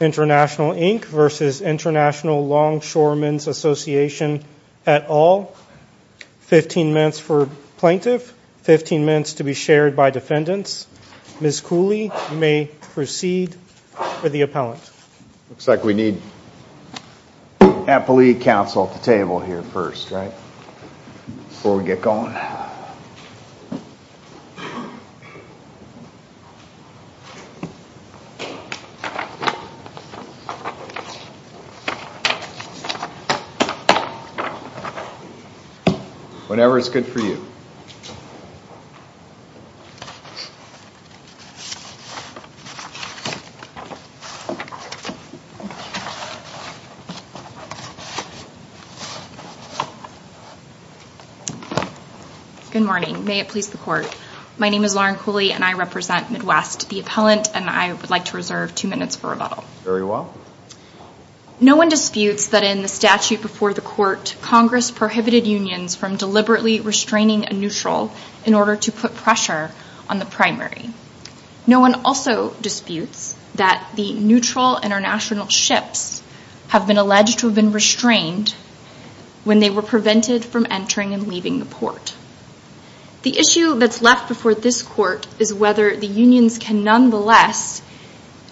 International Inc. vs. International Longshoremen's Association at all 15 minutes for plaintiff 15 minutes to be shared by defendants. Ms. Cooley may proceed for the appellant. Looks like we need Appellee counsel at the table here first, right before we get going Whenever it's good for you Good morning, may it please the court My name is Lauren Cooley and I represent Midwest the appellant and I would like to reserve two minutes for rebuttal. Very well No one disputes that in the statute before the court Congress prohibited unions from deliberately Restraining a neutral in order to put pressure on the primary No one also disputes that the neutral international ships have been alleged to have been restrained When they were prevented from entering and leaving the port The issue that's left before this court is whether the unions can nonetheless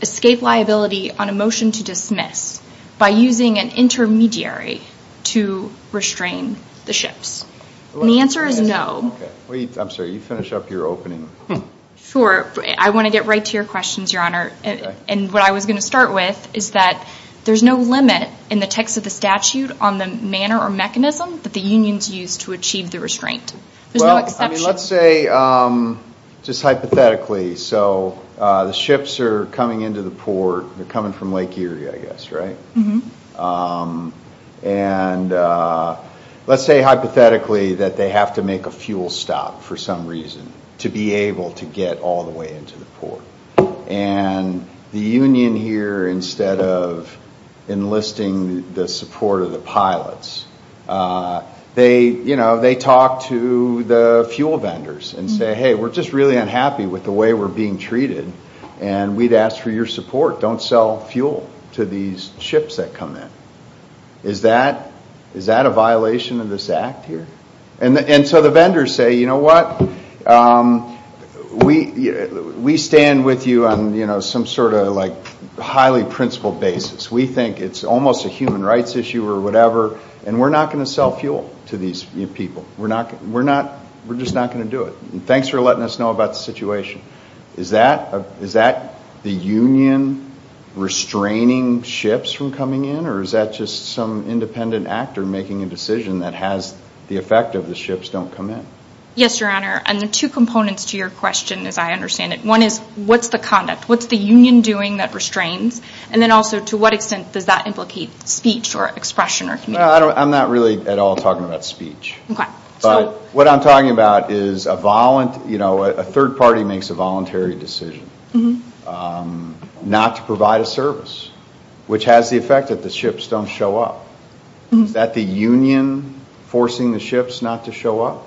escape liability on a motion to dismiss by using an intermediary to Restrain the ships and the answer is no I'm sorry, you finish up your opening Sure, I want to get right to your questions, your honor and what I was going to start with is that There's no limit in the text of the statute on the manner or mechanism that the unions used to achieve the restraint let's say Just hypothetically. So the ships are coming into the port. They're coming from Lake Erie, I guess, right? and Let's say hypothetically that they have to make a fuel stop for some reason to be able to get all the way into the port and the Union here instead of enlisting the support of the pilots They you know, they talk to the fuel vendors and say hey We're just really unhappy with the way we're being treated and we'd asked for your support Don't sell fuel to these ships that come in Is that is that a violation of this act here? And and so the vendors say you know what? We We stand with you on you know, some sort of like highly principled basis We think it's almost a human rights issue or whatever and we're not going to sell fuel to these people We're not we're not we're just not going to do it. Thanks for letting us know about the situation. Is that is that the Union? Restraining ships from coming in or is that just some independent actor making a decision that has the effect of the ships don't come in Yes, your honor and the two components to your question as I understand it one is what's the conduct? What's the Union doing that restrains and then also to what extent does that implicate speech or expression or no? I don't I'm not really at all talking about speech But what I'm talking about is a violent, you know, a third party makes a voluntary decision Not to provide a service which has the effect that the ships don't show up That the Union Forcing the ships not to show up.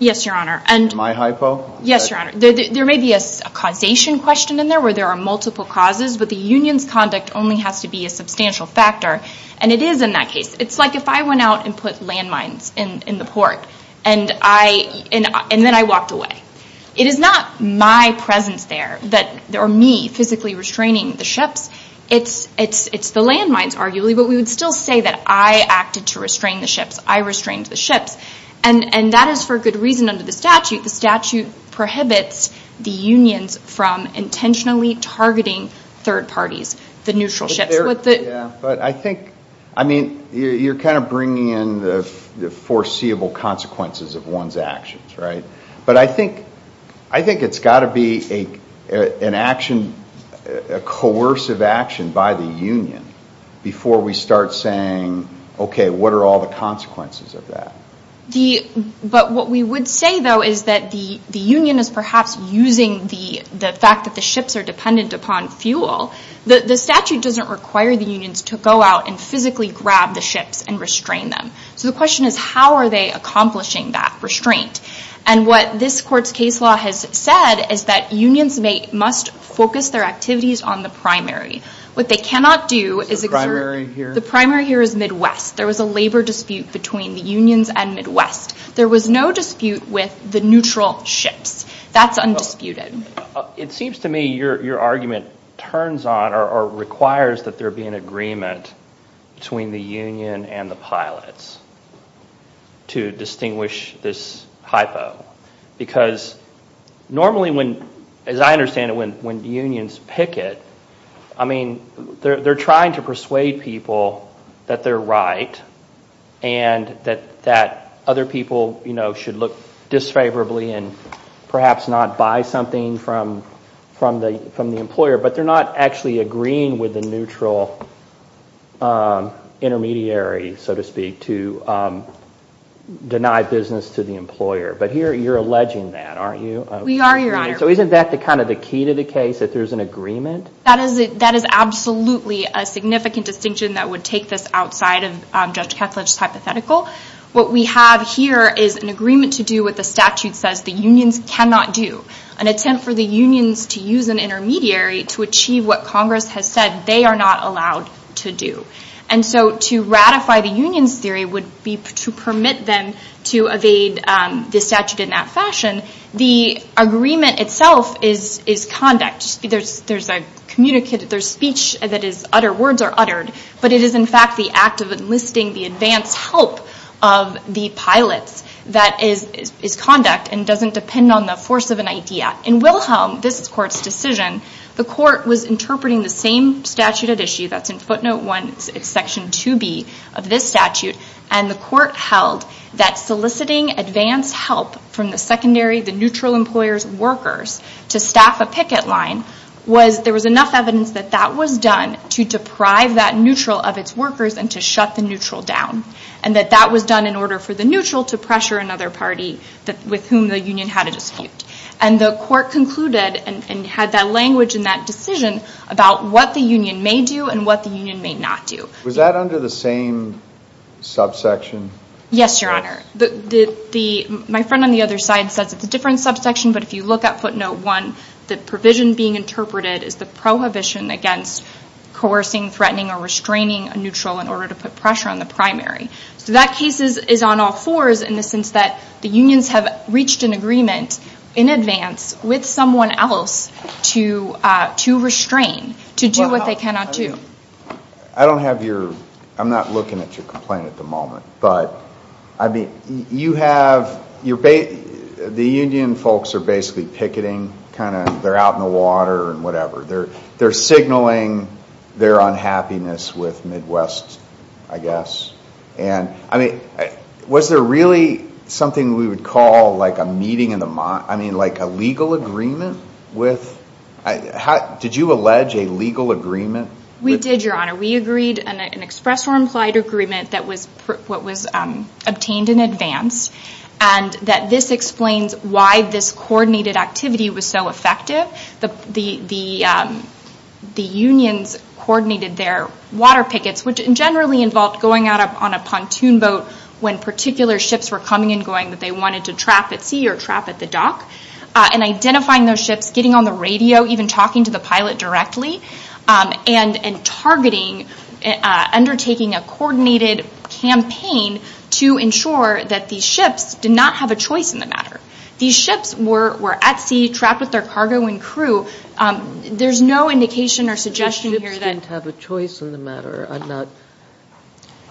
Yes, your honor and my hypo. Yes, your honor There may be a causation question in there where there are multiple causes But the Union's conduct only has to be a substantial factor and it is in that case It's like if I went out and put landmines in in the port and I in and then I walked away It is not my presence there that there are me physically restraining the ships It's it's it's the landmines arguably, but we would still say that I acted to restrain the ships I restrained the ships and and that is for good reason under the statute the statute prohibits the unions from intentionally targeting third parties the neutral ships But I think I mean you're kind of bringing in the the foreseeable consequences of one's actions, right? but I think I think it's got to be a an action a coercive action by the Union Before we start saying Okay, what are all the consequences of that the but what we would say though? Is that the the Union is perhaps using the the fact that the ships are dependent upon fuel? The the statute doesn't require the unions to go out and physically grab the ships and restrain them So the question is how are they accomplishing that restraint? And what this court's case law has said is that unions may must focus their activities on the primary What they cannot do is the primary here the primary here is Midwest There was a labor dispute between the unions and Midwest. There was no dispute with the neutral ships. That's undisputed It seems to me your your argument turns on or requires that there be an agreement between the Union and the pilots to distinguish this hypo because Normally when as I understand it when when the unions picket I mean, they're trying to persuade people that they're right and That that other people, you know should look Disfavorably and perhaps not buy something from from the from the employer, but they're not actually agreeing with the neutral Intermediary so to speak to Deny business to the employer, but here you're alleging that aren't you? So, isn't that the kind of the key to the case that there's an agreement that is it that is absolutely a Significant distinction that would take this outside of judge Catholic's hypothetical What we have here is an agreement to do with the statute says the unions cannot do an attempt for the unions to use an Intermediary to achieve what Congress has said they are not allowed to do and so to ratify the Union's theory would be to permit them to evade the statute in that fashion the Agreement itself is is conduct. There's there's a communicated their speech that is utter words are uttered but it is in fact the act of enlisting the advance help of The pilots that is is conduct and doesn't depend on the force of an idea in Wilhelm this court's decision The court was interpreting the same statute at issue That's in footnote 1 it's section 2b of this statute and the court held that Soliciting advance help from the secondary the neutral employers workers to staff a picket line was there was enough evidence that that was done to deprive that neutral of its workers and to shut the neutral down and That that was done in order for the neutral to pressure another party that with whom the Union had a dispute and the court Concluded and had that language in that decision about what the Union may do and what the Union may not do was that under the same Subsection yes, your honor the the my friend on the other side says it's a different subsection but if you look at footnote 1 the provision being interpreted is the prohibition against Coercing threatening or restraining a neutral in order to put pressure on the primary So that cases is on all fours in the sense that the unions have reached an agreement in advance with someone else to to restrain to do what they cannot do I Have your I'm not looking at your complaint at the moment, but I mean you have your bait The Union folks are basically picketing kind of they're out in the water and whatever. They're they're signaling Their unhappiness with Midwest I guess and I mean Was there really something we would call like a meeting in the month. I mean like a legal agreement with I Did you allege a legal agreement we did your honor we agreed an express or implied agreement that was what was obtained in advance and that this explains why this coordinated activity was so effective the the the the Union's Coordinated their water pickets which generally involved going out up on a pontoon boat When particular ships were coming and going that they wanted to trap at sea or trap at the dock And identifying those ships getting on the radio even talking to the pilot directly and and targeting undertaking a coordinated Campaign to ensure that these ships did not have a choice in the matter. These ships were at sea trapped with their cargo and crew There's no indication or suggestion here that have a choice in the matter. I'm not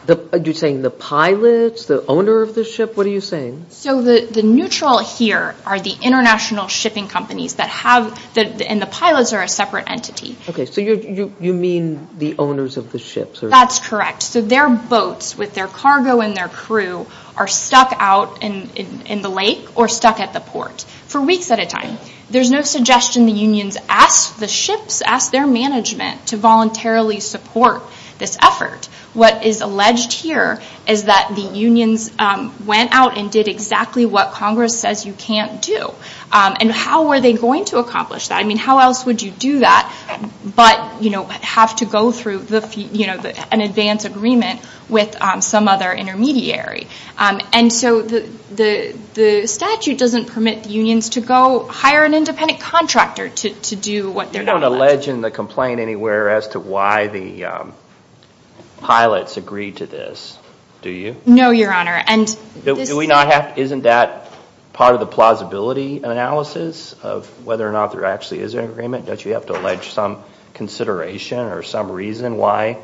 The you're saying the pilots the owner of the ship What are you saying? So the the neutral here are the international shipping companies that have that and the pilots are a separate entity Okay, so you you mean the owners of the ships or that's correct So their boats with their cargo and their crew are stuck out in in the lake or stuck at the port for weeks at a time There's no suggestion the Union's asked the ships asked their management to voluntarily support this effort What is alleged here is that the Union's? Went out and did exactly what Congress says you can't do and how were they going to accomplish that? I mean, how else would you do that? But you know have to go through the you know, an advance agreement with some other intermediary and so the the the statute doesn't permit the Union's to go hire an independent contractor to do what they're not a legend the complaint anywhere as to why the Pilots agreed to this. Do you know your honor? And do we not have isn't that part of the plausibility? Analysis of whether or not there actually is an agreement that you have to allege some Consideration or some reason why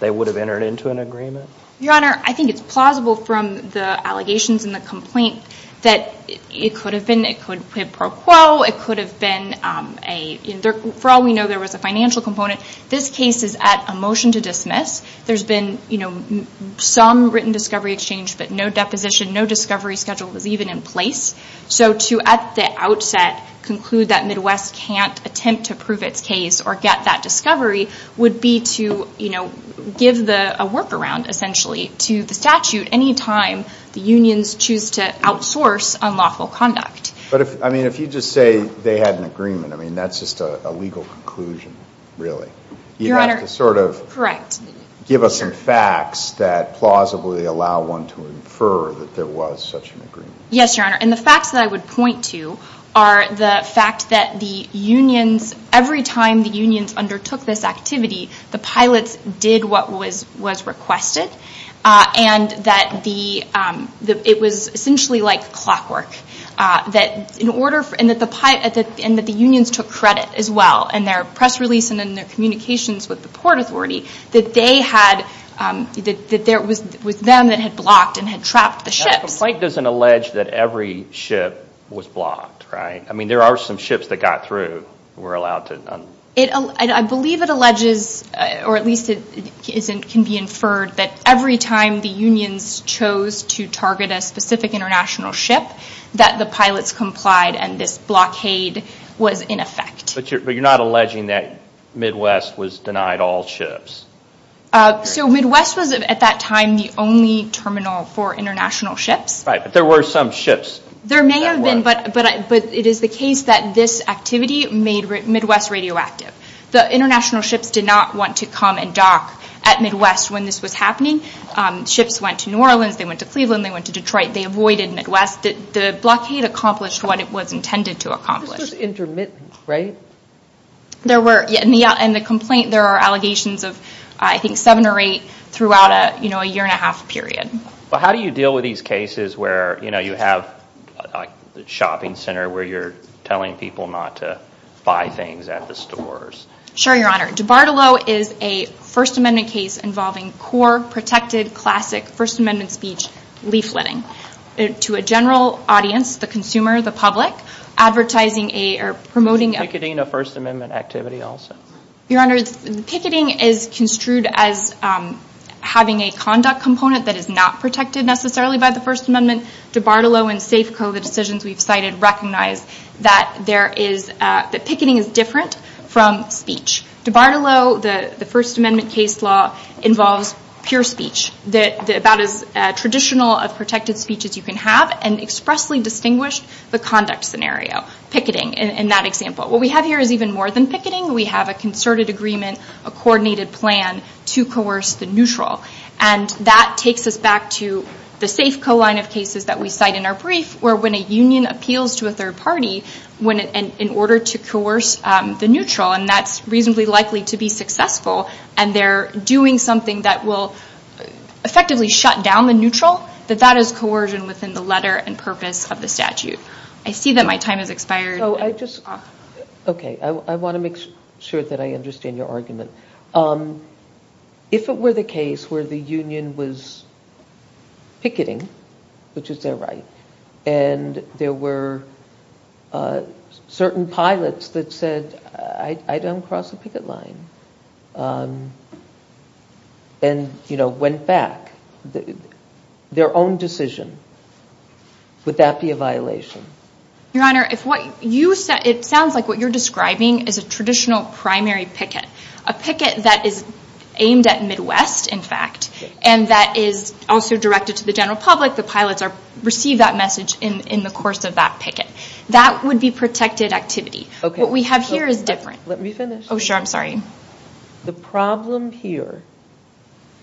they would have entered into an agreement your honor I think it's plausible from the allegations in the complaint that it could have been it could have broke Well, it could have been a there for all we know there was a financial component This case is at a motion to dismiss. There's been you know Some written discovery exchange, but no deposition no discovery schedule was even in place So to at the outset conclude that Midwest can't attempt to prove its case or get that discovery would be to you know Give the workaround essentially to the statute anytime the Union's choose to outsource unlawful conduct But if I mean if you just say they had an agreement, I mean, that's just a legal conclusion Really, you have to sort of correct Give us some facts that plausibly allow one to infer that there was such an agreement yes, your honor and the facts that I would point to are the fact that the Unions every time the unions undertook this activity the pilots did what was was requested and that the It was essentially like clockwork That in order for and that the pipe at the end that the unions took credit as well and their press release and in their communications with the Port Authority that they had That there was with them that had blocked and had trapped the ships like doesn't allege that every ship was blocked, right? I mean there are some ships that got through we're allowed to it I believe it alleges or at least it Isn't can be inferred that every time the unions chose to target a specific international ship That the pilots complied and this blockade was in effect, but you're not alleging that Midwest was denied all ships So Midwest was at that time the only terminal for international ships, right? But there were some ships there may have been but but but it is the case that this activity made Midwest radioactive The international ships did not want to come and dock at Midwest when this was happening Ships went to New Orleans. They went to Cleveland. They went to Detroit. They avoided Midwest the blockade accomplished what it was intended to accomplish intermittent, right There were yeah, and the out and the complaint there are allegations of I think seven or eight throughout a you know a year and a half period but how do you deal with these cases where you know, you have a Shopping center where you're telling people not to buy things at the stores Sure, your honor de Bartolo is a First Amendment case involving core protected classic First Amendment speech leafletting to a general audience the consumer the public Advertising a or promoting a cadena First Amendment activity. Also, your honor. The picketing is construed as Having a conduct component that is not protected necessarily by the First Amendment DeBartolo and Safeco the decisions we've cited recognize that there is that picketing is different from speech DeBartolo the the First Amendment case law involves pure speech that about as Traditional of protected speech as you can have and expressly distinguished the conduct scenario picketing in that example What we have here is even more than picketing we have a concerted agreement a coordinated plan to coerce the neutral and That takes us back to the Safeco line of cases that we cite in our brief where when a union appeals to a third party when in order to coerce the neutral and that's reasonably likely to be successful and they're doing something that will Effectively shut down the neutral that that is coercion within the letter and purpose of the statute I see that my time has expired. Oh, I just Okay, I want to make sure that I understand your argument If it were the case where the union was Picketing which is their right and there were Certain pilots that said I don't cross the picket line And You know went back the their own decision Would that be a violation? Your honor if what you said it sounds like what you're describing is a traditional primary picket a picket that is Aimed at Midwest in fact and that is also directed to the general public The pilots are received that message in in the course of that picket that would be protected activity Okay, what we have here is different. Let me finish. Oh sure. I'm sorry the problem here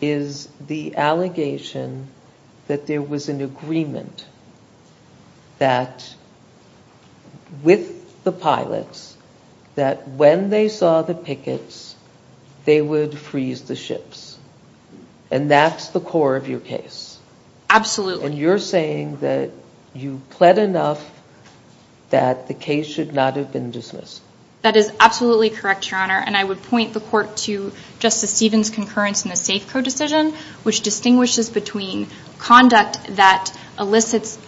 is the allegation That there was an agreement That With the pilots that when they saw the pickets They would freeze the ships and that's the core of your case Absolutely, and you're saying that you pled enough That the case should not have been dismissed That is absolutely correct your honor and I would point the court to justice Stevens concurrence in a safe code decision which distinguishes between Conduct that elicits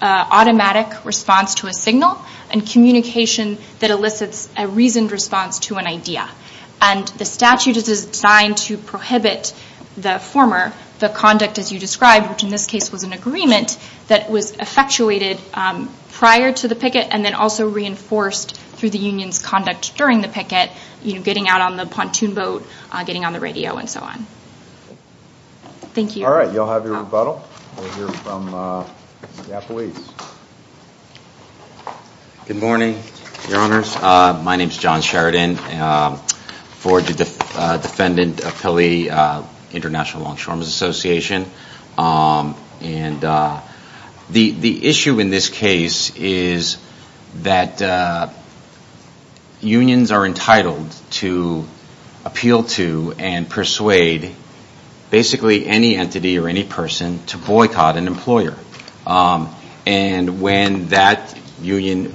Automatic response to a signal and communication that elicits a reasoned response to an idea and The statute is designed to prohibit the former the conduct as you described which in this case was an agreement that was effectuated Prior to the picket and then also reinforced through the Union's conduct during the picket You know getting out on the pontoon boat getting on the radio and so on Thank you, all right y'all have your rebuttal Good morning your honors my name is John Sheridan for the defendant of Pili International Longshore Miss Association and the the issue in this case is that Unions are entitled to appeal to and persuade Basically any entity or any person to boycott an employer and when that Union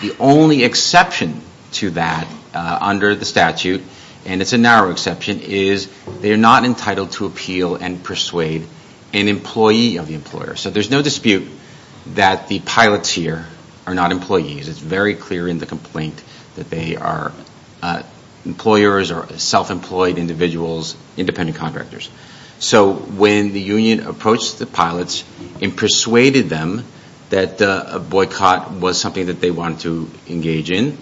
The only exception to that Under the statute and it's a narrow exception is they are not entitled to appeal and persuade an employee of the employer So there's no dispute that the pilots here are not employees. It's very clear in the complaint that they are Employers or self-employed individuals independent contractors, so when the Union approached the pilots and Persuaded them that a boycott was something that they wanted to engage in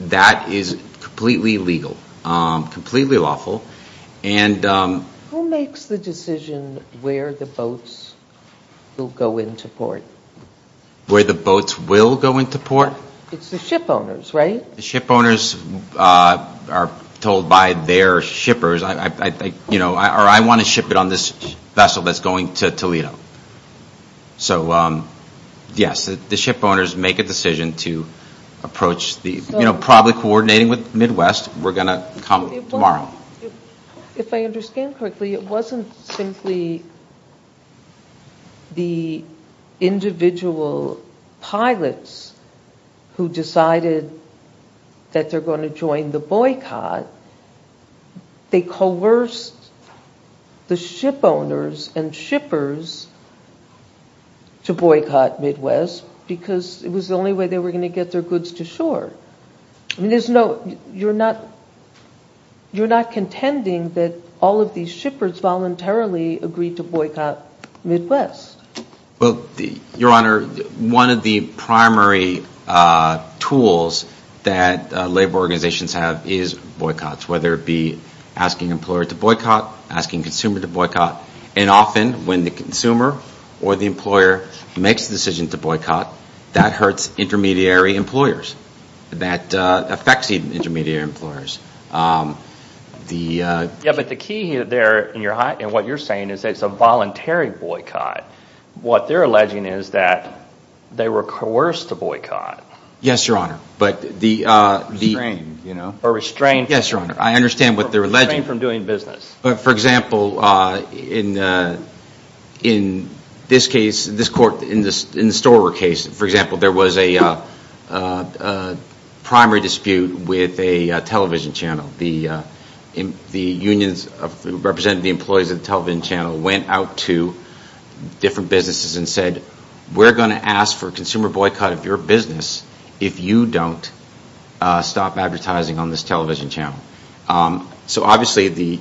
that is completely legal completely lawful and Who makes the decision where the boats? Will go into port Where the boats will go into port it's the ship owners right the ship owners Are told by their shippers. I think you know I want to ship it on this vessel. That's going to Toledo so Yes, the ship owners make a decision to approach the you know probably coordinating with Midwest. We're going to come tomorrow If I understand correctly it wasn't simply the individual pilots Who decided? That they're going to join the boycott they coerced the ship owners and shippers To boycott Midwest because it was the only way they were going to get their goods to shore There's no you're not You're not contending that all of these shippers voluntarily agreed to boycott Midwest well the your honor one of the primary Tools that labor organizations have is boycotts whether it be Asking employer to boycott asking consumer to boycott and often when the consumer or the employer Makes the decision to boycott that hurts intermediary employers that affects even intermediary employers The yeah, but the key here there in your heart and what you're saying is it's a voluntary boycott What they're alleging is that They were coerced to boycott. Yes, your honor, but the the brain you know or restrained. Yes, your honor I understand what they're alleging from doing business, but for example in in this case this court in this in the store were case for example there was a Primary dispute with a television channel the the unions of represented the employees of the television channel went out to Different businesses and said we're going to ask for consumer boycott of your business if you don't Stop advertising on this television channel so obviously the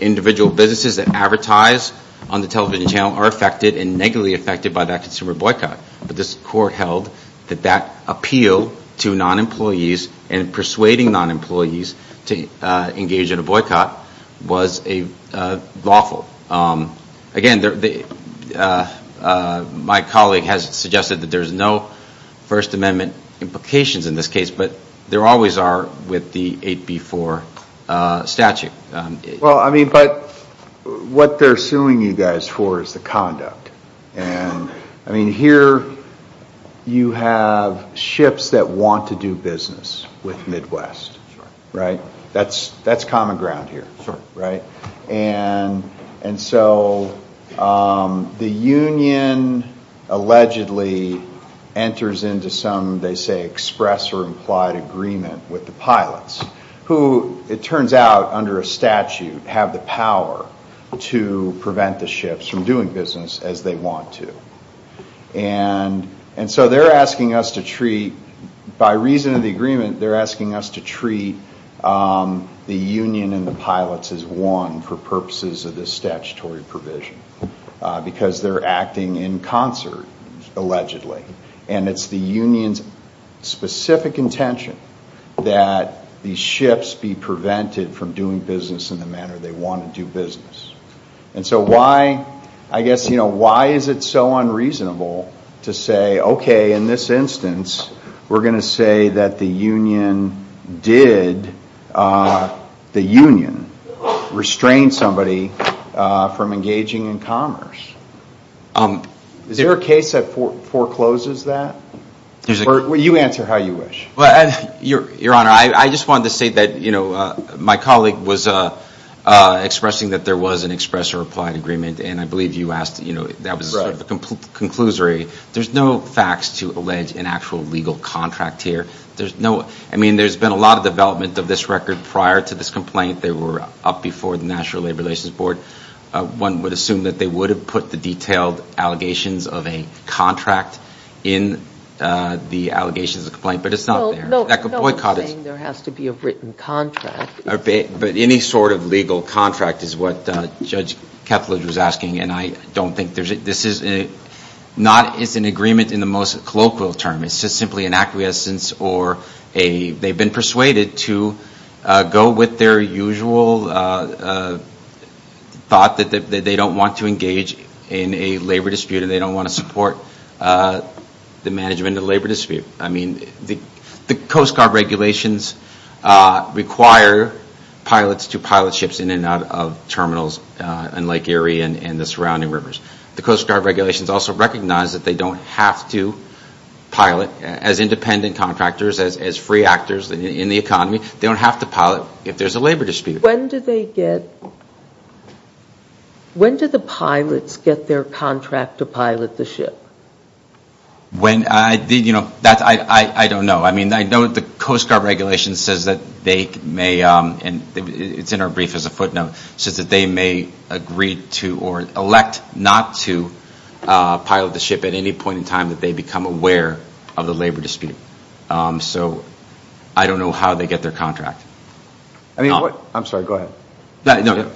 Individual businesses that advertise on the television channel are affected and negatively affected by that consumer boycott but this court held that that appeal to non-employees and persuading non-employees to engage in a boycott was a lawful Again there My colleague has suggested that there's no first amendment implications in this case, but there always are with the 8b4 statute well, I mean, but What they're suing you guys for is the conduct and I mean here You have ships that want to do business with Midwest right, that's that's common ground here for right and and so the Union Allegedly enters into some they say express or implied agreement with the pilots who it turns out under a statute have the power to prevent the ships from doing business as they want to and And so they're asking us to treat by reason of the agreement. They're asking us to treat The Union and the pilots as one for purposes of this statutory provision Because they're acting in concert Allegedly, and it's the Union's specific intention that These ships be prevented from doing business in the manner. They want to do business And so why I guess you know, why is it so unreasonable to say? Okay in this instance, we're going to say that the Union Did the Union restrained somebody from engaging in commerce Um, is there a case that for forecloses that there's a court where you answer how you wish well, and your your honor, I just wanted to say that, you know, my colleague was a Expressing that there was an express or implied agreement and I believe you asked, you know, that was the Conclusory there's no facts to allege an actual legal contract here There's no, I mean, there's been a lot of development of this record prior to this complaint They were up before the National Labor Relations Board One would assume that they would have put the detailed allegations of a contract in The allegations of complaint, but it's not there that could boycott it. There has to be a written contract Okay, but any sort of legal contract is what Judge Ketledge was asking and I don't think there's it. This is a Not it's an agreement in the most colloquial term It's just simply an acquiescence or a they've been persuaded to go with their usual Thought that they don't want to engage in a labor dispute and they don't want to support The management of labor dispute. I mean the the Coast Guard regulations require pilots to pilot ships in and out of Recognize that they don't have to Pilot as independent contractors as as free actors in the economy. They don't have to pilot if there's a labor dispute. When did they get? When did the pilots get their contract to pilot the ship When I did, you know that I I don't know I mean, I know the Coast Guard regulation says that they may and it's in our brief as a footnote says that they may agree to or elect not to Pilot the ship at any point in time that they become aware of the labor dispute So, I don't know how they get their contract. I mean what I'm sorry. Go ahead. No,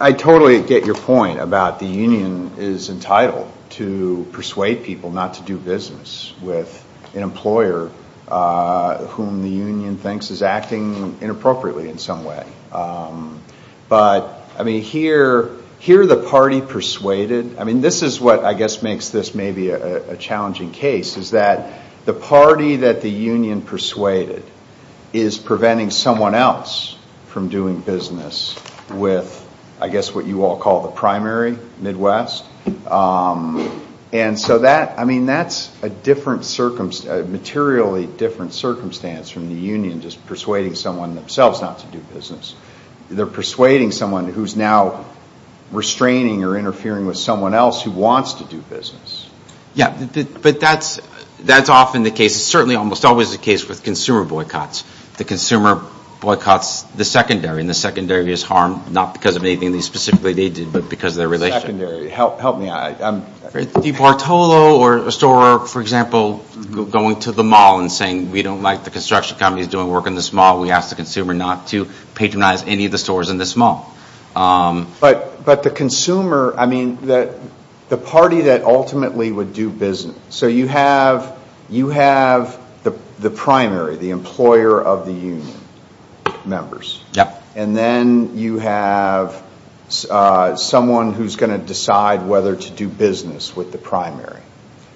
I Totally get your point about the Union is entitled to persuade people not to do business with an employer Whom the Union thinks is acting inappropriately in some way But I mean here here the party persuaded I mean, this is what I guess makes this maybe a challenging case is that the party that the Union persuaded is Preventing someone else from doing business with I guess what you all call the primary Midwest And so that I mean, that's a different circumstance Materially different circumstance from the Union just persuading someone themselves not to do business. They're persuading someone who's now Restraining or interfering with someone else who wants to do business Yeah, but that's that's often the case It's certainly almost always the case with consumer boycotts the consumer boycotts The secondary and the secondary is harmed not because of anything these specifically they did but because of their relationship Help help me. I'm Bartolo or a store for example Going to the mall and saying we don't like the construction companies doing work in this mall We asked the consumer not to patronize any of the stores in this mall But but the consumer I mean that the party that ultimately would do business So you have you have the the primary the employer of the Union? Members. Yep, and then you have Someone who's going to decide whether to do business with the primary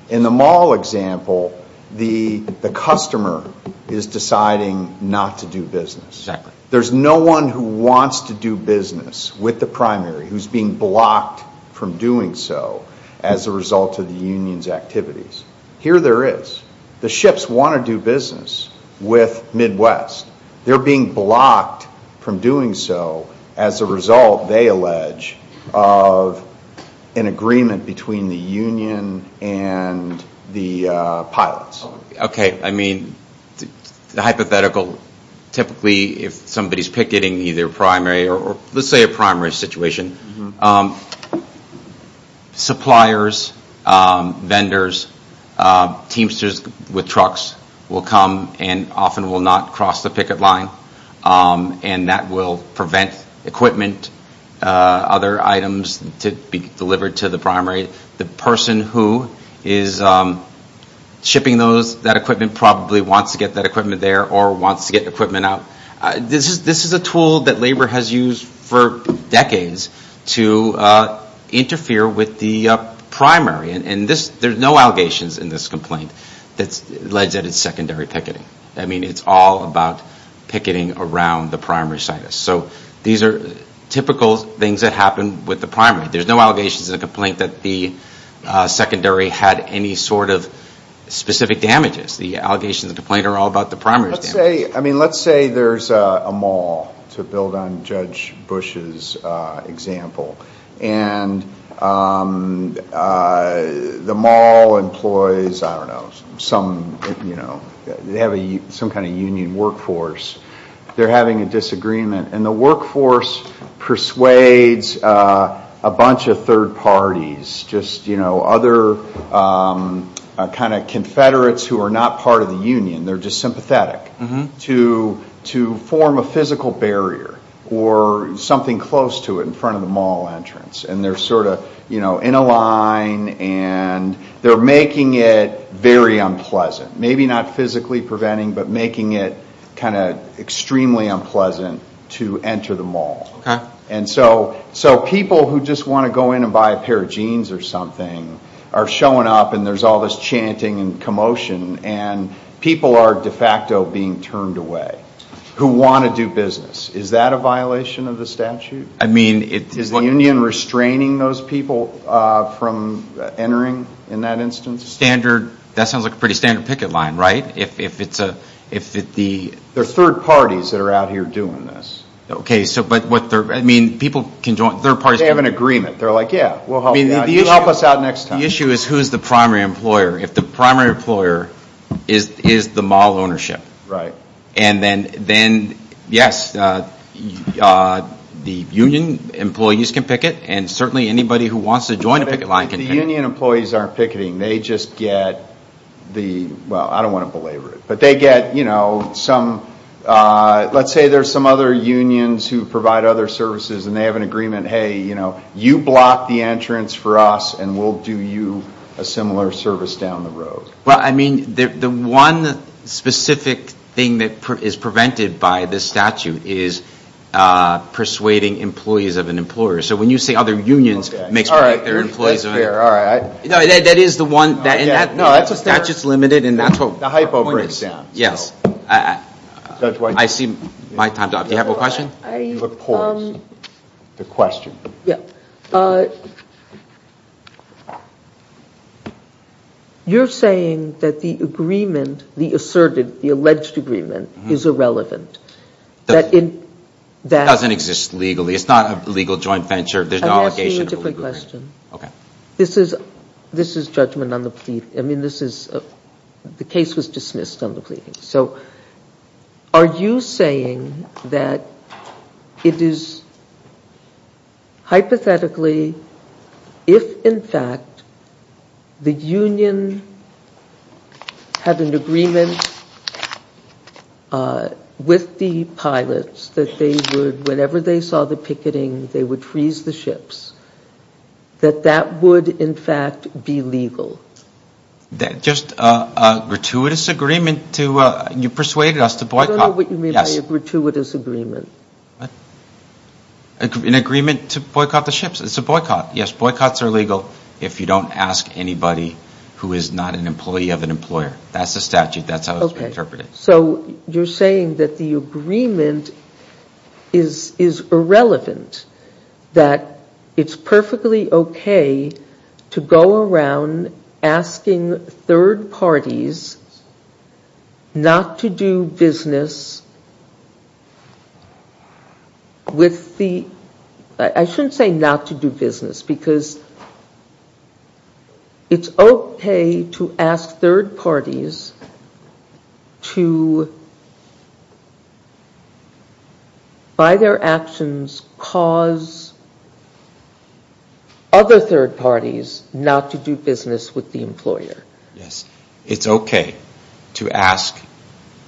in the mall example The the customer is deciding not to do business There's no one who wants to do business with the primary who's being blocked From doing so as a result of the Union's activities here There is the ships want to do business with Midwest They're being blocked from doing so as a result they allege of an agreement between the Union and the pilots, okay, I mean the hypothetical Typically if somebody's picketing either primary or let's say a primary situation Suppliers vendors Teamsters with trucks will come and often will not cross the picket line And that will prevent equipment other items to be delivered to the primary the person who is Shipping those that equipment probably wants to get that equipment there or wants to get equipment out this is this is a tool that labor has used for decades to Interfere with the Primary and in this there's no allegations in this complaint. That's alleged that it's secondary picketing I mean, it's all about picketing around the primary site. So these are typical things that happen with the primary there's no allegations in a complaint that the secondary had any sort of Specific damages the allegations of the plane are all about the primary say I mean let's say there's a mall to build on judge Bush's Example and The mall employs, I don't know some you know, they have a some kind of Union workforce They're having a disagreement and the workforce persuades a bunch of third parties just you know other Kind of Confederates who are not part of the Union they're just sympathetic to to form a physical barrier or Something close to it in front of the mall entrance and they're sort of, you know in a line and They're making it very unpleasant. Maybe not physically preventing but making it kind of Extremely unpleasant to enter the mall Okay and so so people who just want to go in and buy a pair of jeans or something are showing up and there's all this chanting and commotion and People are de facto being turned away who want to do business. Is that a violation of the statute? I mean it is the Union restraining those people from Entering in that instance standard that sounds like a pretty standard picket line Right, if it's a if it the their third parties that are out here doing this Okay, so but what they're I mean people can join third parties. They have an agreement. They're like, yeah You help us out next time issue is who's the primary employer if the primary employer is Is the mall ownership right and then then yes The Union employees can picket and certainly anybody who wants to join a picket line can the Union employees aren't picketing they just get The well, I don't want to belabor it, but they get you know some Let's say there's some other unions who provide other services and they have an agreement Hey, you know you block the entrance for us and we'll do you a similar service down the road. Well, I mean the one specific thing that is prevented by this statute is Persuading employees of an employer. So when you say other unions makes all right You know, that is the one that and that no, that's just that's just limited and that's what the hypo brings down. Yes That's what I see my time job. You have a question The question yeah You're saying that the agreement the asserted the alleged agreement is irrelevant that in That doesn't exist legally. It's not a legal joint venture. There's no allocation a different question Okay, this is this is judgment on the plea. I mean, this is The case was dismissed on the pleading. So Are you saying that? It is Hypothetically if in fact the Union Had an agreement With the pilots that they would whenever they saw the picketing they would freeze the ships That that would in fact be legal that just a Gratuitous agreement to you persuaded us to boycott what you mean gratuitous agreement An agreement to boycott the ships. It's a boycott Yes, boycotts are legal if you don't ask anybody who is not an employee of an employer, that's a statute That's how it's interpreted. So you're saying that the agreement is is irrelevant That it's perfectly okay to go around asking third parties Not to do business With the I shouldn't say not to do business because It's okay to ask third parties to By their actions cause Other third parties not to do business with the employer. Yes, it's okay to ask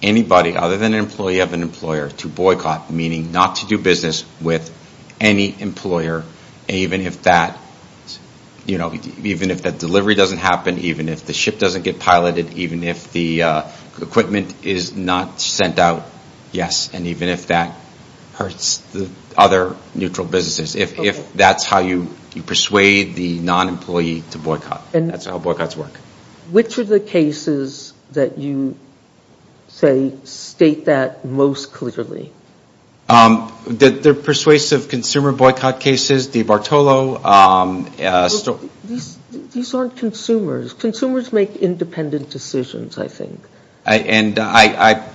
Anybody other than an employee of an employer to boycott meaning not to do business with any employer even if that you know, even if that delivery doesn't happen, even if the ship doesn't get piloted even if the Equipment is not sent out. Yes, and even if that hurts the other neutral businesses If that's how you you persuade the non-employee to boycott and that's how boycotts work. Which are the cases that you Say state that most clearly Did their persuasive consumer boycott cases the Bartolo? So these aren't consumers consumers make independent decisions. I think I and I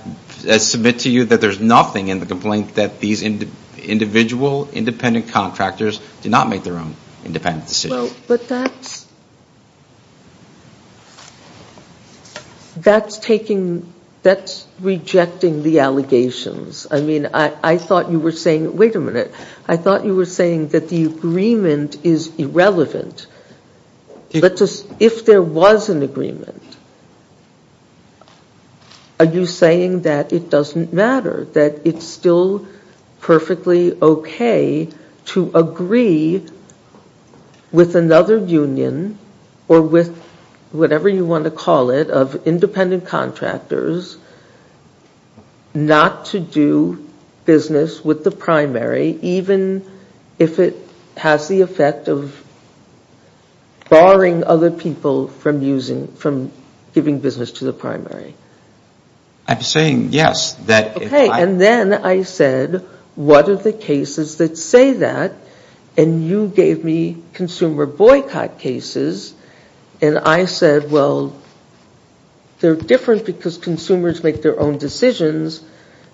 Submit to you that there's nothing in the complaint that these Individual independent contractors do not make their own independent. Well, but that's That's taking that's Rejecting the allegations. I mean, I I thought you were saying wait a minute. I thought you were saying that the agreement is irrelevant Let's us if there was an agreement Are you saying that it doesn't matter that it's still perfectly, okay to agree With another union or with whatever you want to call it of independent contractors Not to do business with the primary even if it has the effect of Barring other people from using from giving business to the primary I'm saying yes that okay, and then I said what are the cases that say that and You gave me consumer boycott cases and I said well They're different because consumers make their own decisions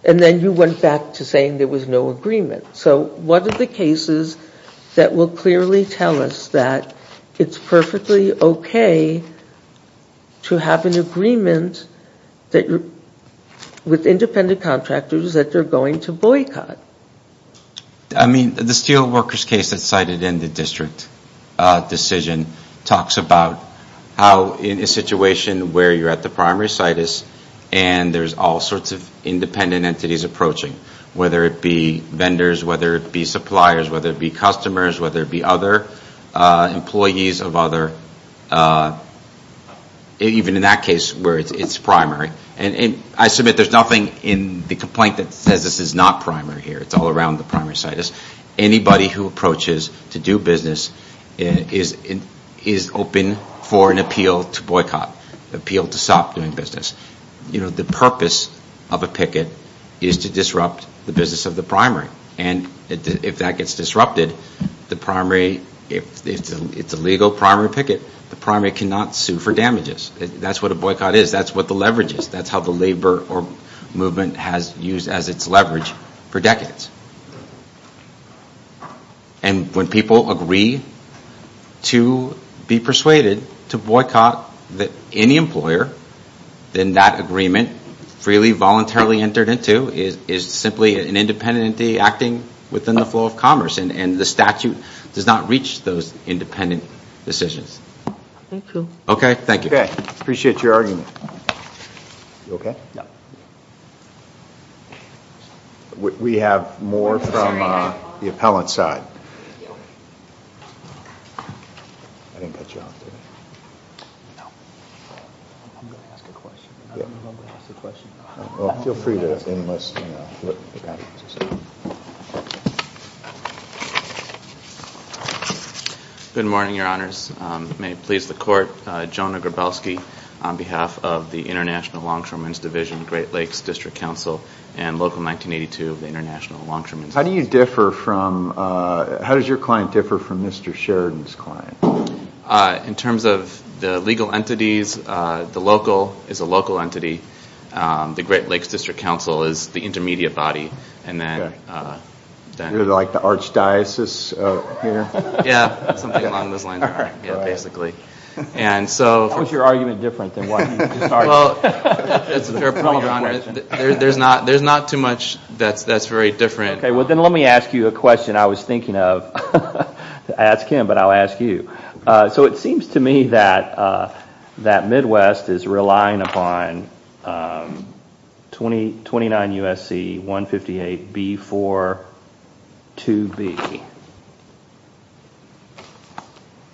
and then you went back to saying there was no agreement So what are the cases that will clearly tell us that it's perfectly, okay? To have an agreement that you're with independent contractors that they're going to boycott. I District decision talks about how in a situation where you're at the primary site is and There's all sorts of independent entities approaching whether it be vendors whether it be suppliers whether it be customers whether it be other employees of other Even in that case where it's primary and I submit there's nothing in the complaint that says this is not primary here Anybody who approaches to do business is Is open for an appeal to boycott appeal to stop doing business you know the purpose of a picket is to disrupt the business of the primary and If that gets disrupted the primary if it's a legal primary picket the primary cannot sue for damages That's what a boycott is. That's what the leverage is. That's how the labor or movement has used as its leverage for decades and when people agree To be persuaded to boycott that any employer Then that agreement Freely voluntarily entered into is is simply an independent acting within the flow of commerce and and the statute does not reach those independent decisions Okay, thank you. Okay. Appreciate your argument Okay We have more Appellant side Feel free to Good morning your honors may it please the court Jonah Grabowski on behalf of the International longshoremen's division Great Lakes District Council and local 1982 of the International longshoremen's how do you differ from How does your client differ from mr. Sheridan's client? In terms of the legal entities the local is a local entity the Great Lakes District Council is the intermediate body and then Like the archdiocese Basically and so what's your argument different than what? There's not there's not too much that's that's very different. Okay. Well, then let me ask you a question. I was thinking of Ask him, but I'll ask you. So it seems to me that That Midwest is relying upon 20 29 USC 158 B for to be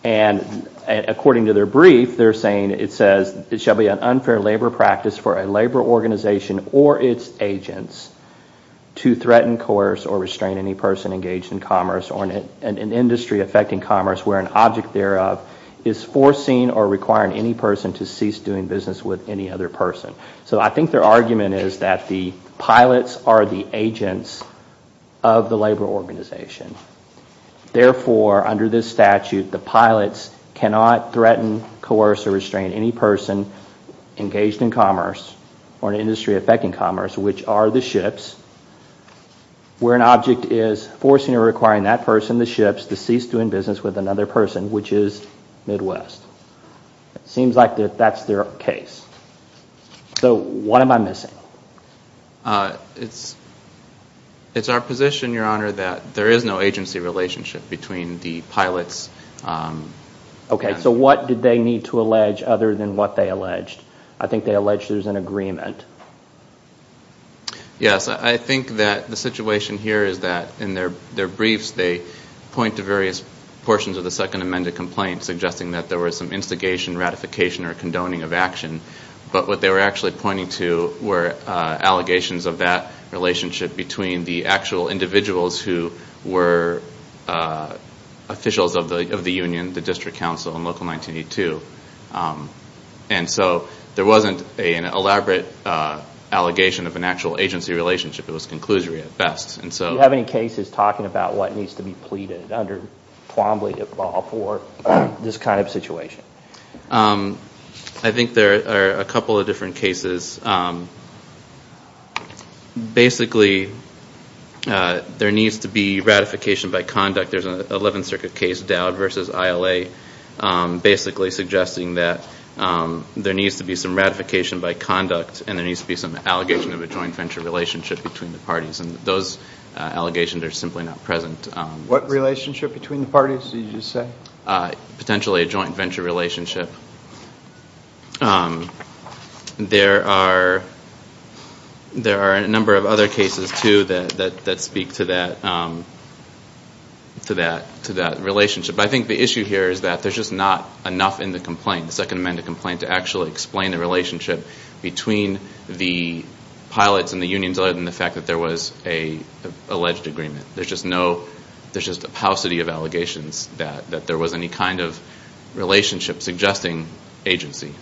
And According to their brief they're saying it says it shall be an unfair labor practice for a labor organization or its agents to threaten coerce or restrain any person engaged in commerce or in an industry affecting commerce where an object thereof is Forcing or requiring any person to cease doing business with any other person? So I think their argument is that the pilots are the agents of the labor organization Therefore under this statute the pilots cannot threaten coerce or restrain any person Engaged in commerce or an industry affecting commerce, which are the ships Where an object is forcing or requiring that person the ships to cease doing business with another person, which is Midwest Seems like that that's their case So what am I missing? It's Our position your honor that there is no agency relationship between the pilots Okay, so what did they need to allege other than what they alleged? I think they alleged there's an agreement Yes, I think that the situation here is that in their their briefs they point to various portions of the second amended complaint suggesting that There was some instigation ratification or condoning of action. But what they were actually pointing to were Allegations of that relationship between the actual individuals who were Officials of the of the Union the District Council and local 1982 And so there wasn't an elaborate Allegation of an actual agency relationship. It was conclusory at best And so have any cases talking about what needs to be pleaded under Plumlee at all for this kind of situation I think there are a couple of different cases Basically There needs to be ratification by conduct. There's an 11th Circuit case Dowd versus ILA basically suggesting that There needs to be some ratification by conduct and there needs to be some allegation of a joint venture relationship between the parties and those Allegations are simply not present what relationship between the parties. Did you say? potentially a joint venture relationship There are There are a number of other cases to that that speak to that To that to that relationship I think the issue here is that there's just not enough in the complaint the second amended complaint to actually explain the relationship between the pilots and the unions other than the fact that there was a Alleged agreement. There's just no there's just a paucity of allegations that that there was any kind of relationship suggesting agency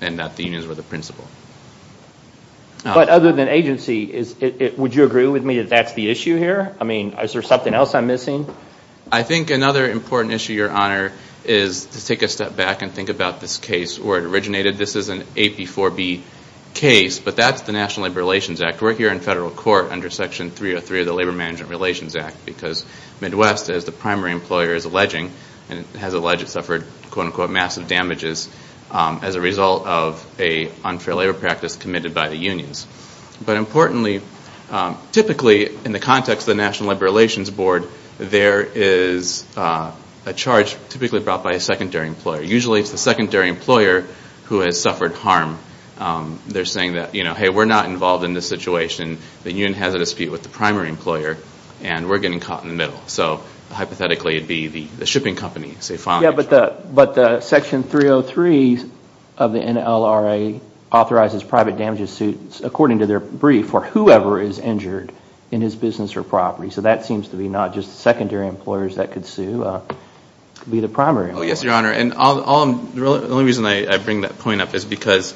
and That the unions were the principal But other than agency is it would you agree with me? That's the issue here. I mean, is there something else I'm missing? I think another important issue your honor is to take a step back and think about this case where it originated This is an a before B case, but that's the National Labor Relations Act we're here in federal court under section 303 of the Labor Management Relations Act because Midwest as the primary employer is alleging and has alleged it suffered quote-unquote massive damages As a result of a unfair labor practice committed by the unions, but importantly typically in the context of the National Labor Relations Board, there is A charge typically brought by a secondary employer. Usually it's the secondary employer who has suffered harm They're saying that you know, hey, we're not involved in this situation The union has a dispute with the primary employer and we're getting caught in the middle So hypothetically it'd be the shipping company say fine. Yeah, but the but the section 303 of the NLRA Authorizes private damages suits according to their brief for whoever is injured in his business or property So that seems to be not just secondary employers that could sue Be the primary. Oh, yes, your honor and all the only reason I bring that point up is because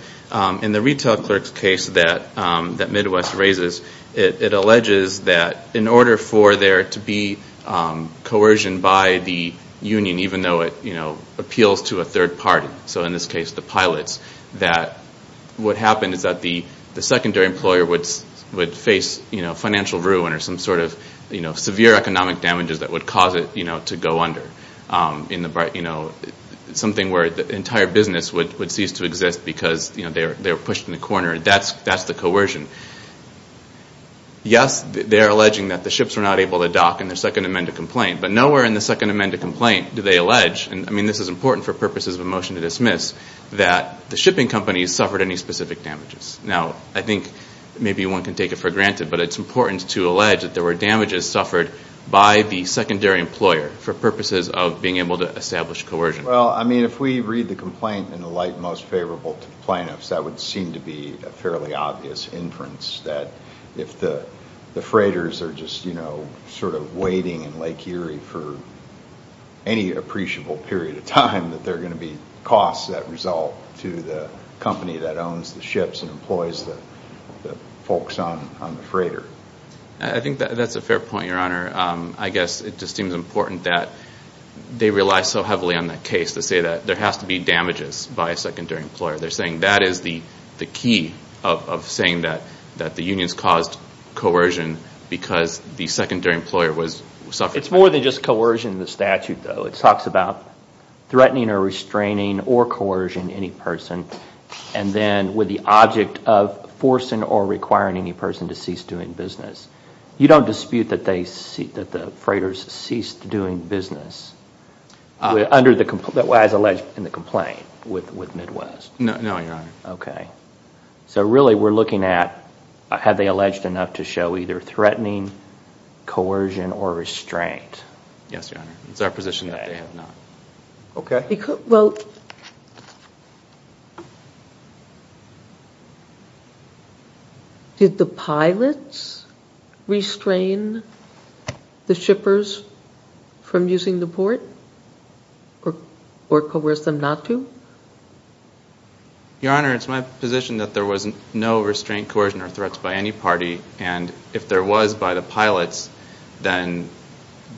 in the retail clerks case that That Midwest raises it alleges that in order for there to be coercion by the Union, even though it, you know appeals to a third party. So in this case the pilots that What happened is that the the secondary employer would would face, you know Financial ruin or some sort of you know, severe economic damages that would cause it, you know to go under in the bright, you know Something where the entire business would would cease to exist because you know, they're they're pushed in the corner. That's that's the coercion Yes, they're alleging that the ships were not able to dock in their second amendment complaint But nowhere in the second amendment complaint do they allege? And I mean this is important for purposes of a motion to dismiss that the shipping companies suffered any specific damages now I think maybe one can take it for granted But it's important to allege that there were damages suffered by the secondary employer for purposes of being able to establish coercion Well, I mean if we read the complaint in the light most favorable to the plaintiffs that would seem to be a fairly obvious inference that if the the freighters are just you know, sort of waiting in Lake Erie for any appreciable period of time that they're going to be costs that result to the Company that owns the ships and employs the the folks on the freighter. I think that's a fair point your honor I guess it just seems important that They rely so heavily on that case to say that there has to be damages by a secondary employer They're saying that is the the key of saying that that the unions caused Coercion because the secondary employer was suffered. It's more than just coercion the statute though. It talks about threatening or restraining or coercion any person and then with the object of Forcing or requiring any person to cease doing business You don't dispute that they see that the freighters ceased doing business Under the complete that was alleged in the complaint with with Midwest. No, no, okay So really we're looking at have they alleged enough to show either threatening Coercion or restraint. Yes, your honor. It's our position that they have not Okay, well Did the pilots Restrain the shippers from using the port or or coerce them not to Your honor it's my position that there wasn't no restraint coercion or threats by any party and if there was by the pilots then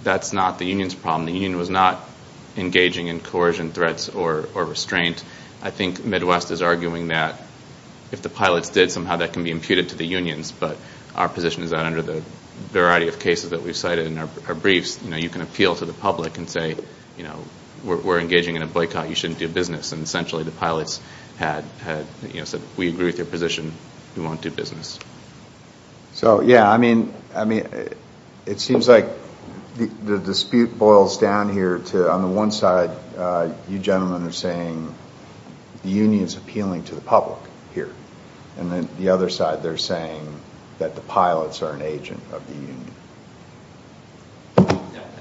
That's not the Union's problem. The Union was not Engaging in coercion threats or restraint. I think Midwest is arguing that If the pilots did somehow that can be imputed to the unions But our position is that under the variety of cases that we've cited in our briefs You know, you can appeal to the public and say, you know, we're engaging in a boycott You shouldn't do business and essentially the pilots had had you know said we agree with your position. We won't do business So yeah, I mean, I mean it seems like the dispute boils down here to on the one side You gentlemen are saying The Union's appealing to the public here and then the other side they're saying that the pilots are an agent of the Union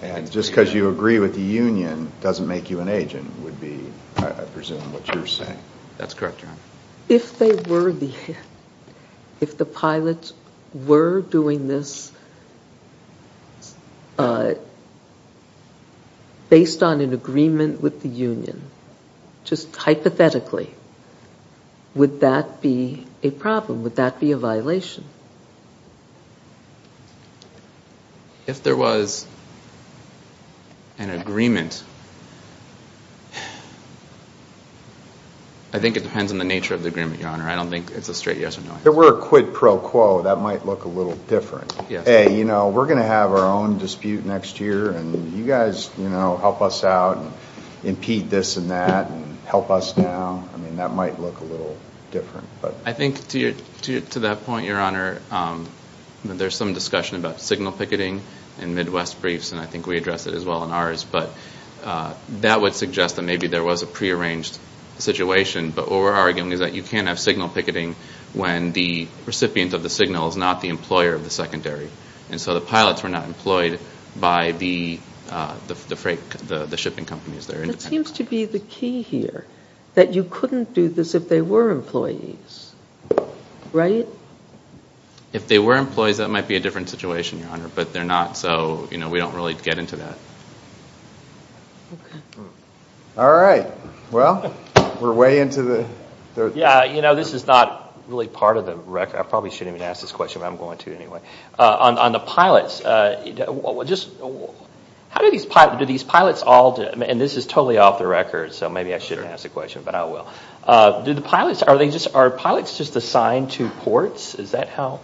And just because you agree with the Union doesn't make you an agent would be I presume what you're saying That's correct. If they were the if the pilots were doing this Based on an agreement with the Union just hypothetically Would that be a problem? Would that be a violation? If there was an agreement I think it depends on the nature of the agreement. Your honor. I don't think it's a straight yes or no There were a quid pro quo that might look a little different. Yeah. Hey, you know, we're gonna have our own Dispute next year and you guys, you know help us out Impeach this and that and help us now. I mean that might look a little different But I think to you to that point your honor there's some discussion about signal picketing in Midwest briefs, and I think we addressed it as well in ours, but That would suggest that maybe there was a pre-arranged situation but what we're arguing is that you can't have signal picketing when the Pilots were not employed by the The freight the the shipping companies. They're independent. It seems to be the key here that you couldn't do this if they were employees right If they were employees that might be a different situation your honor, but they're not so, you know, we don't really get into that All right, well we're way into the Yeah, you know, this is not really part of the record I probably shouldn't even ask this question, but I'm going to anyway on the pilots just How do these pilots do these pilots all and this is totally off the record? So maybe I should ask the question, but I will do the pilots Are they just our pilots just assigned to ports? Is that how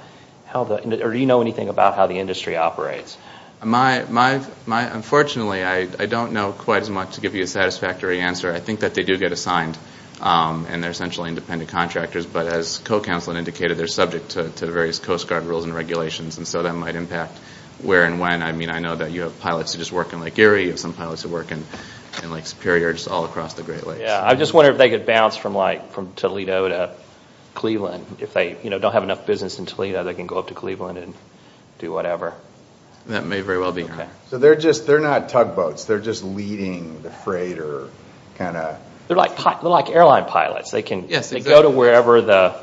how the or do you know anything about how the industry operates my my my unfortunately? I don't know quite as much to give you a satisfactory answer. I think that they do get assigned And they're essentially independent contractors But as co-counseling indicated they're subject to the various Coast Guard rules and regulations And so that might impact where and when I mean I know that you have pilots who just work in like Gary of some pilots who work in And like superiors all across the Great Lakes. Yeah, I just wonder if they could bounce from like from Toledo to Cleveland if they you know, don't have enough business in Toledo. They can go up to Cleveland and do whatever That may very well be okay. So they're just they're not tugboats. They're just leading the freighter They're like like airline pilots they can yes, they go to wherever the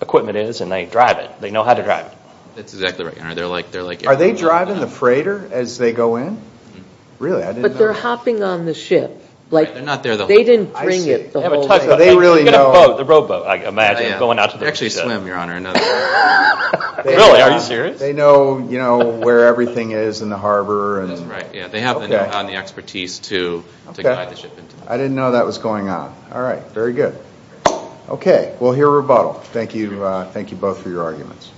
Equipment is and they drive it. They know how to drive it. That's exactly right. They're like they're like Are they driving the freighter as they go in? Really, but they're hopping on the ship like they're not there though. They didn't bring it They really know the robo. I imagine going out to actually swim your honor They know, you know where everything is in the harbor and right yeah, they have the expertise to I didn't know that was going on. All right, very good Okay, we'll hear rebuttal. Thank you. Thank you both for your arguments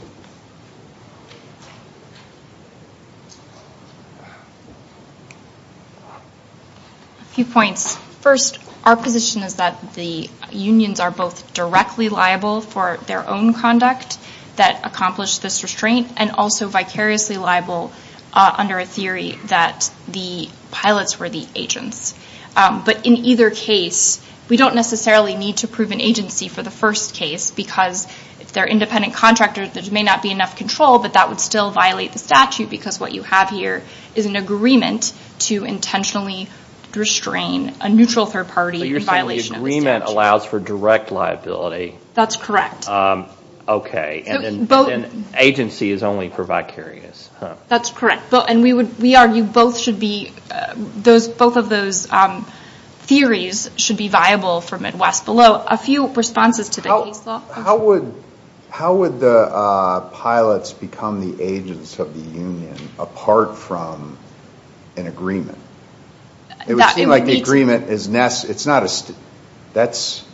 A few points first our position is that the unions are both directly liable for their own conduct That accomplished this restraint and also vicariously liable under a theory that the pilots were the agents but in either case We don't necessarily need to prove an agency for the first case because if they're independent contractors There's may not be enough control, but that would still violate the statute because what you have here is an agreement to intentionally Restrain a neutral third party violation agreement allows for direct liability. That's correct Okay, and then both an agency is only for vicarious. That's correct. Well, and we would we argue both should be Those both of those Theories should be viable for Midwest below a few responses to the case law. How would how would the pilots become the agents of the Union apart from an agreement It would be like the agreement is nest. It's not a stick. That's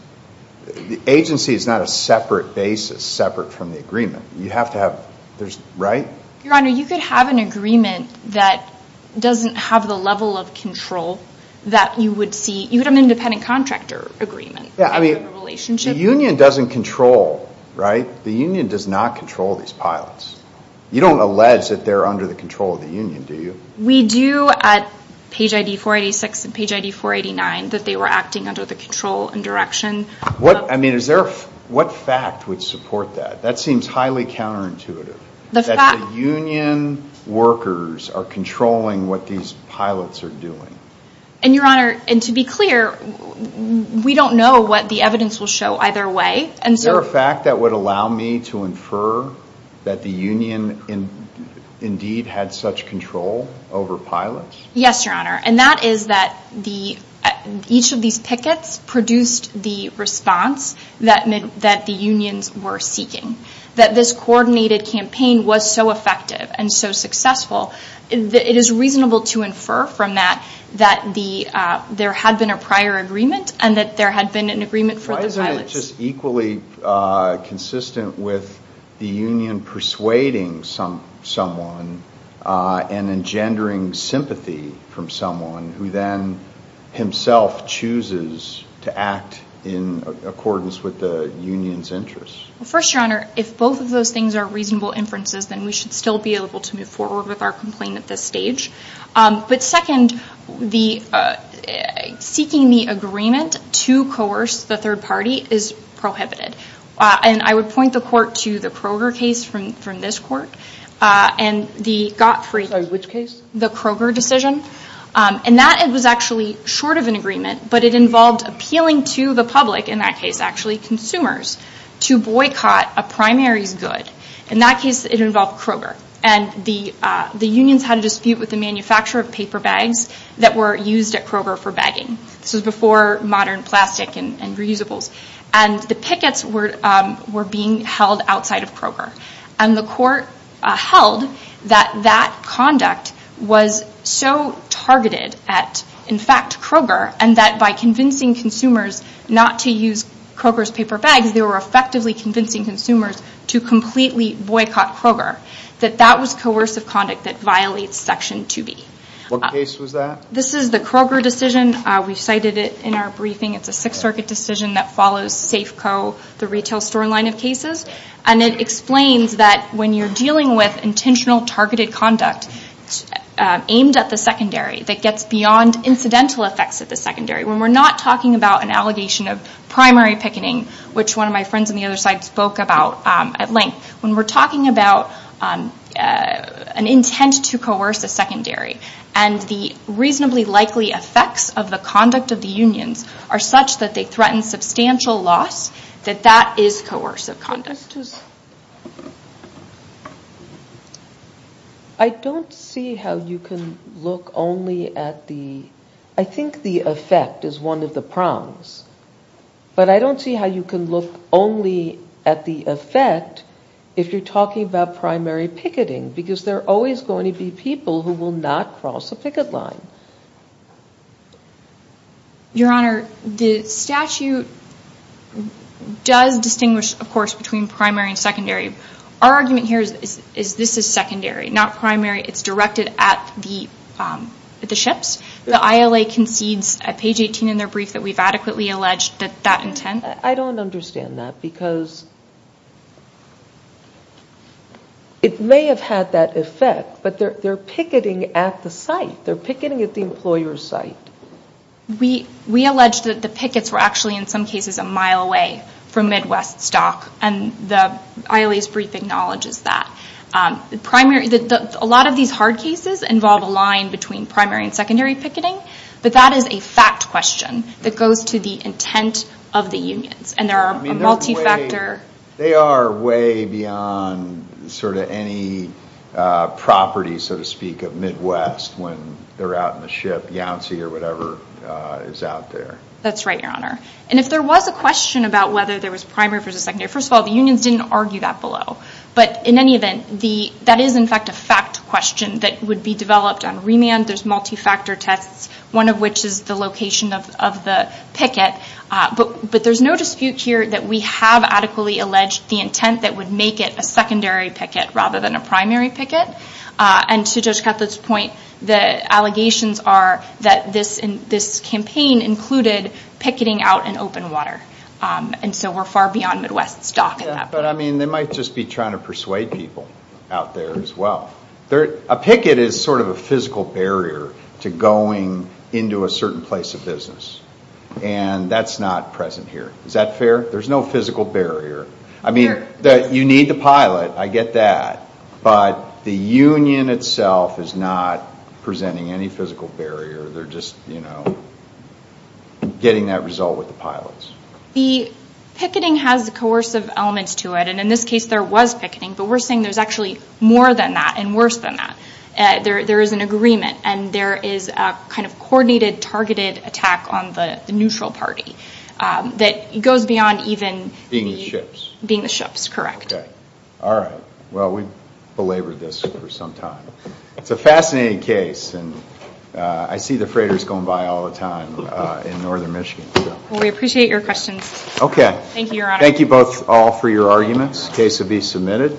The agency is not a separate basis separate from the agreement. You have to have there's right your honor You could have an agreement that Doesn't have the level of control that you would see you would have an independent contractor agreement. Yeah I mean relationship Union doesn't control right the Union does not control these pilots You don't allege that they're under the control of the Union Do you we do at page ID 486 and page ID 489 that they were acting under the control and direction? What I mean is there what fact would support that that seems highly counterintuitive The Union Workers are controlling what these pilots are doing and your honor and to be clear We don't know what the evidence will show either way and so a fact that would allow me to infer that the Union in Indeed had such control over pilots. Yes, your honor. And that is that the each of these pickets produced the Response that meant that the unions were seeking that this coordinated campaign was so effective and so successful It is reasonable to infer from that that the there had been a prior agreement and that there had been an agreement for the pilots just equally consistent with the Union persuading some someone and engendering sympathy from someone who then Himself chooses to act in Accordance with the Union's interests first your honor if both of those things are reasonable inferences Then we should still be able to move forward with our complaint at this stage but second the Seeking the agreement to coerce the third party is prohibited And I would point the court to the Kroger case from from this court and the got free which case the Kroger decision And that it was actually short of an agreement But it involved appealing to the public in that case actually consumers to boycott a primaries good in that case It involved Kroger and the the unions had a dispute with the manufacturer of paper bags that were used at Kroger for bagging this was before modern plastic and reusables and the pickets were Were being held outside of Kroger and the court held that that conduct was So targeted at in fact Kroger and that by convincing consumers not to use Kroger's paper bags They were effectively convincing consumers to completely boycott Kroger that that was coercive conduct that violates section 2b What case was that? This is the Kroger decision. We've cited it in our briefing It's a Sixth Circuit decision that follows Safeco the retail store line of cases and it explains that when you're dealing with intentional targeted conduct Aimed at the secondary that gets beyond incidental effects at the secondary when we're not talking about an allegation of primary picketing Which one of my friends on the other side spoke about at length when we're talking about An intent to coerce a secondary and the reasonably likely Effects of the conduct of the unions are such that they threaten substantial loss that that is coercive conduct I Don't see how you can look only at the I think the effect is one of the prongs But I don't see how you can look only at the effect if you're talking about primary Picketing because they're always going to be people who will not cross a picket line Your honor the statute Does distinguish of course between primary and secondary our argument here is is this is secondary not primary it's directed at the At the ships the ILA concedes at page 18 in their brief that we've adequately alleged that that intent I don't understand that because It may have had that effect, but they're they're picketing at the site they're picketing at the employer's site We we alleged that the pickets were actually in some cases a mile away from Midwest stock and the ILA's brief acknowledges that The primary that a lot of these hard cases involve a line between primary and secondary picketing But that is a fact question that goes to the intent of the unions and there are multi-factor They are way beyond sort of any Property so to speak of Midwest when they're out in the ship Yancey or whatever is out there That's right your honor And if there was a question about whether there was primary for the second year first of all the unions didn't argue that below But in any event the that is in fact a fact question that would be developed on remand There's multi-factor tests one of which is the location of the picket But but there's no dispute here that we have adequately alleged the intent that would make it a secondary Picket rather than a primary picket and to judge Cutler's point the allegations are that this in this campaign Included picketing out in open water And so we're far beyond Midwest stock But I mean they might just be trying to persuade people out there as well there a picket is sort of a physical barrier to going into a certain place of business and That's not present here. Is that fair? There's no physical barrier. I mean that you need the pilot I get that but the union itself is not Presenting any physical barrier. They're just you know Getting that result with the pilots the Picketing has the coercive elements to it and in this case there was picketing But we're saying there's actually more than that and worse than that There there is an agreement, and there is a kind of coordinated targeted attack on the neutral party That goes beyond even being the ships being the ships correct All right, well, we belabored this for some time. It's a fascinating case and I see the freighters going by all the time In northern, Michigan we appreciate your questions. Okay. Thank you. Thank you both all for your arguments case to be submitted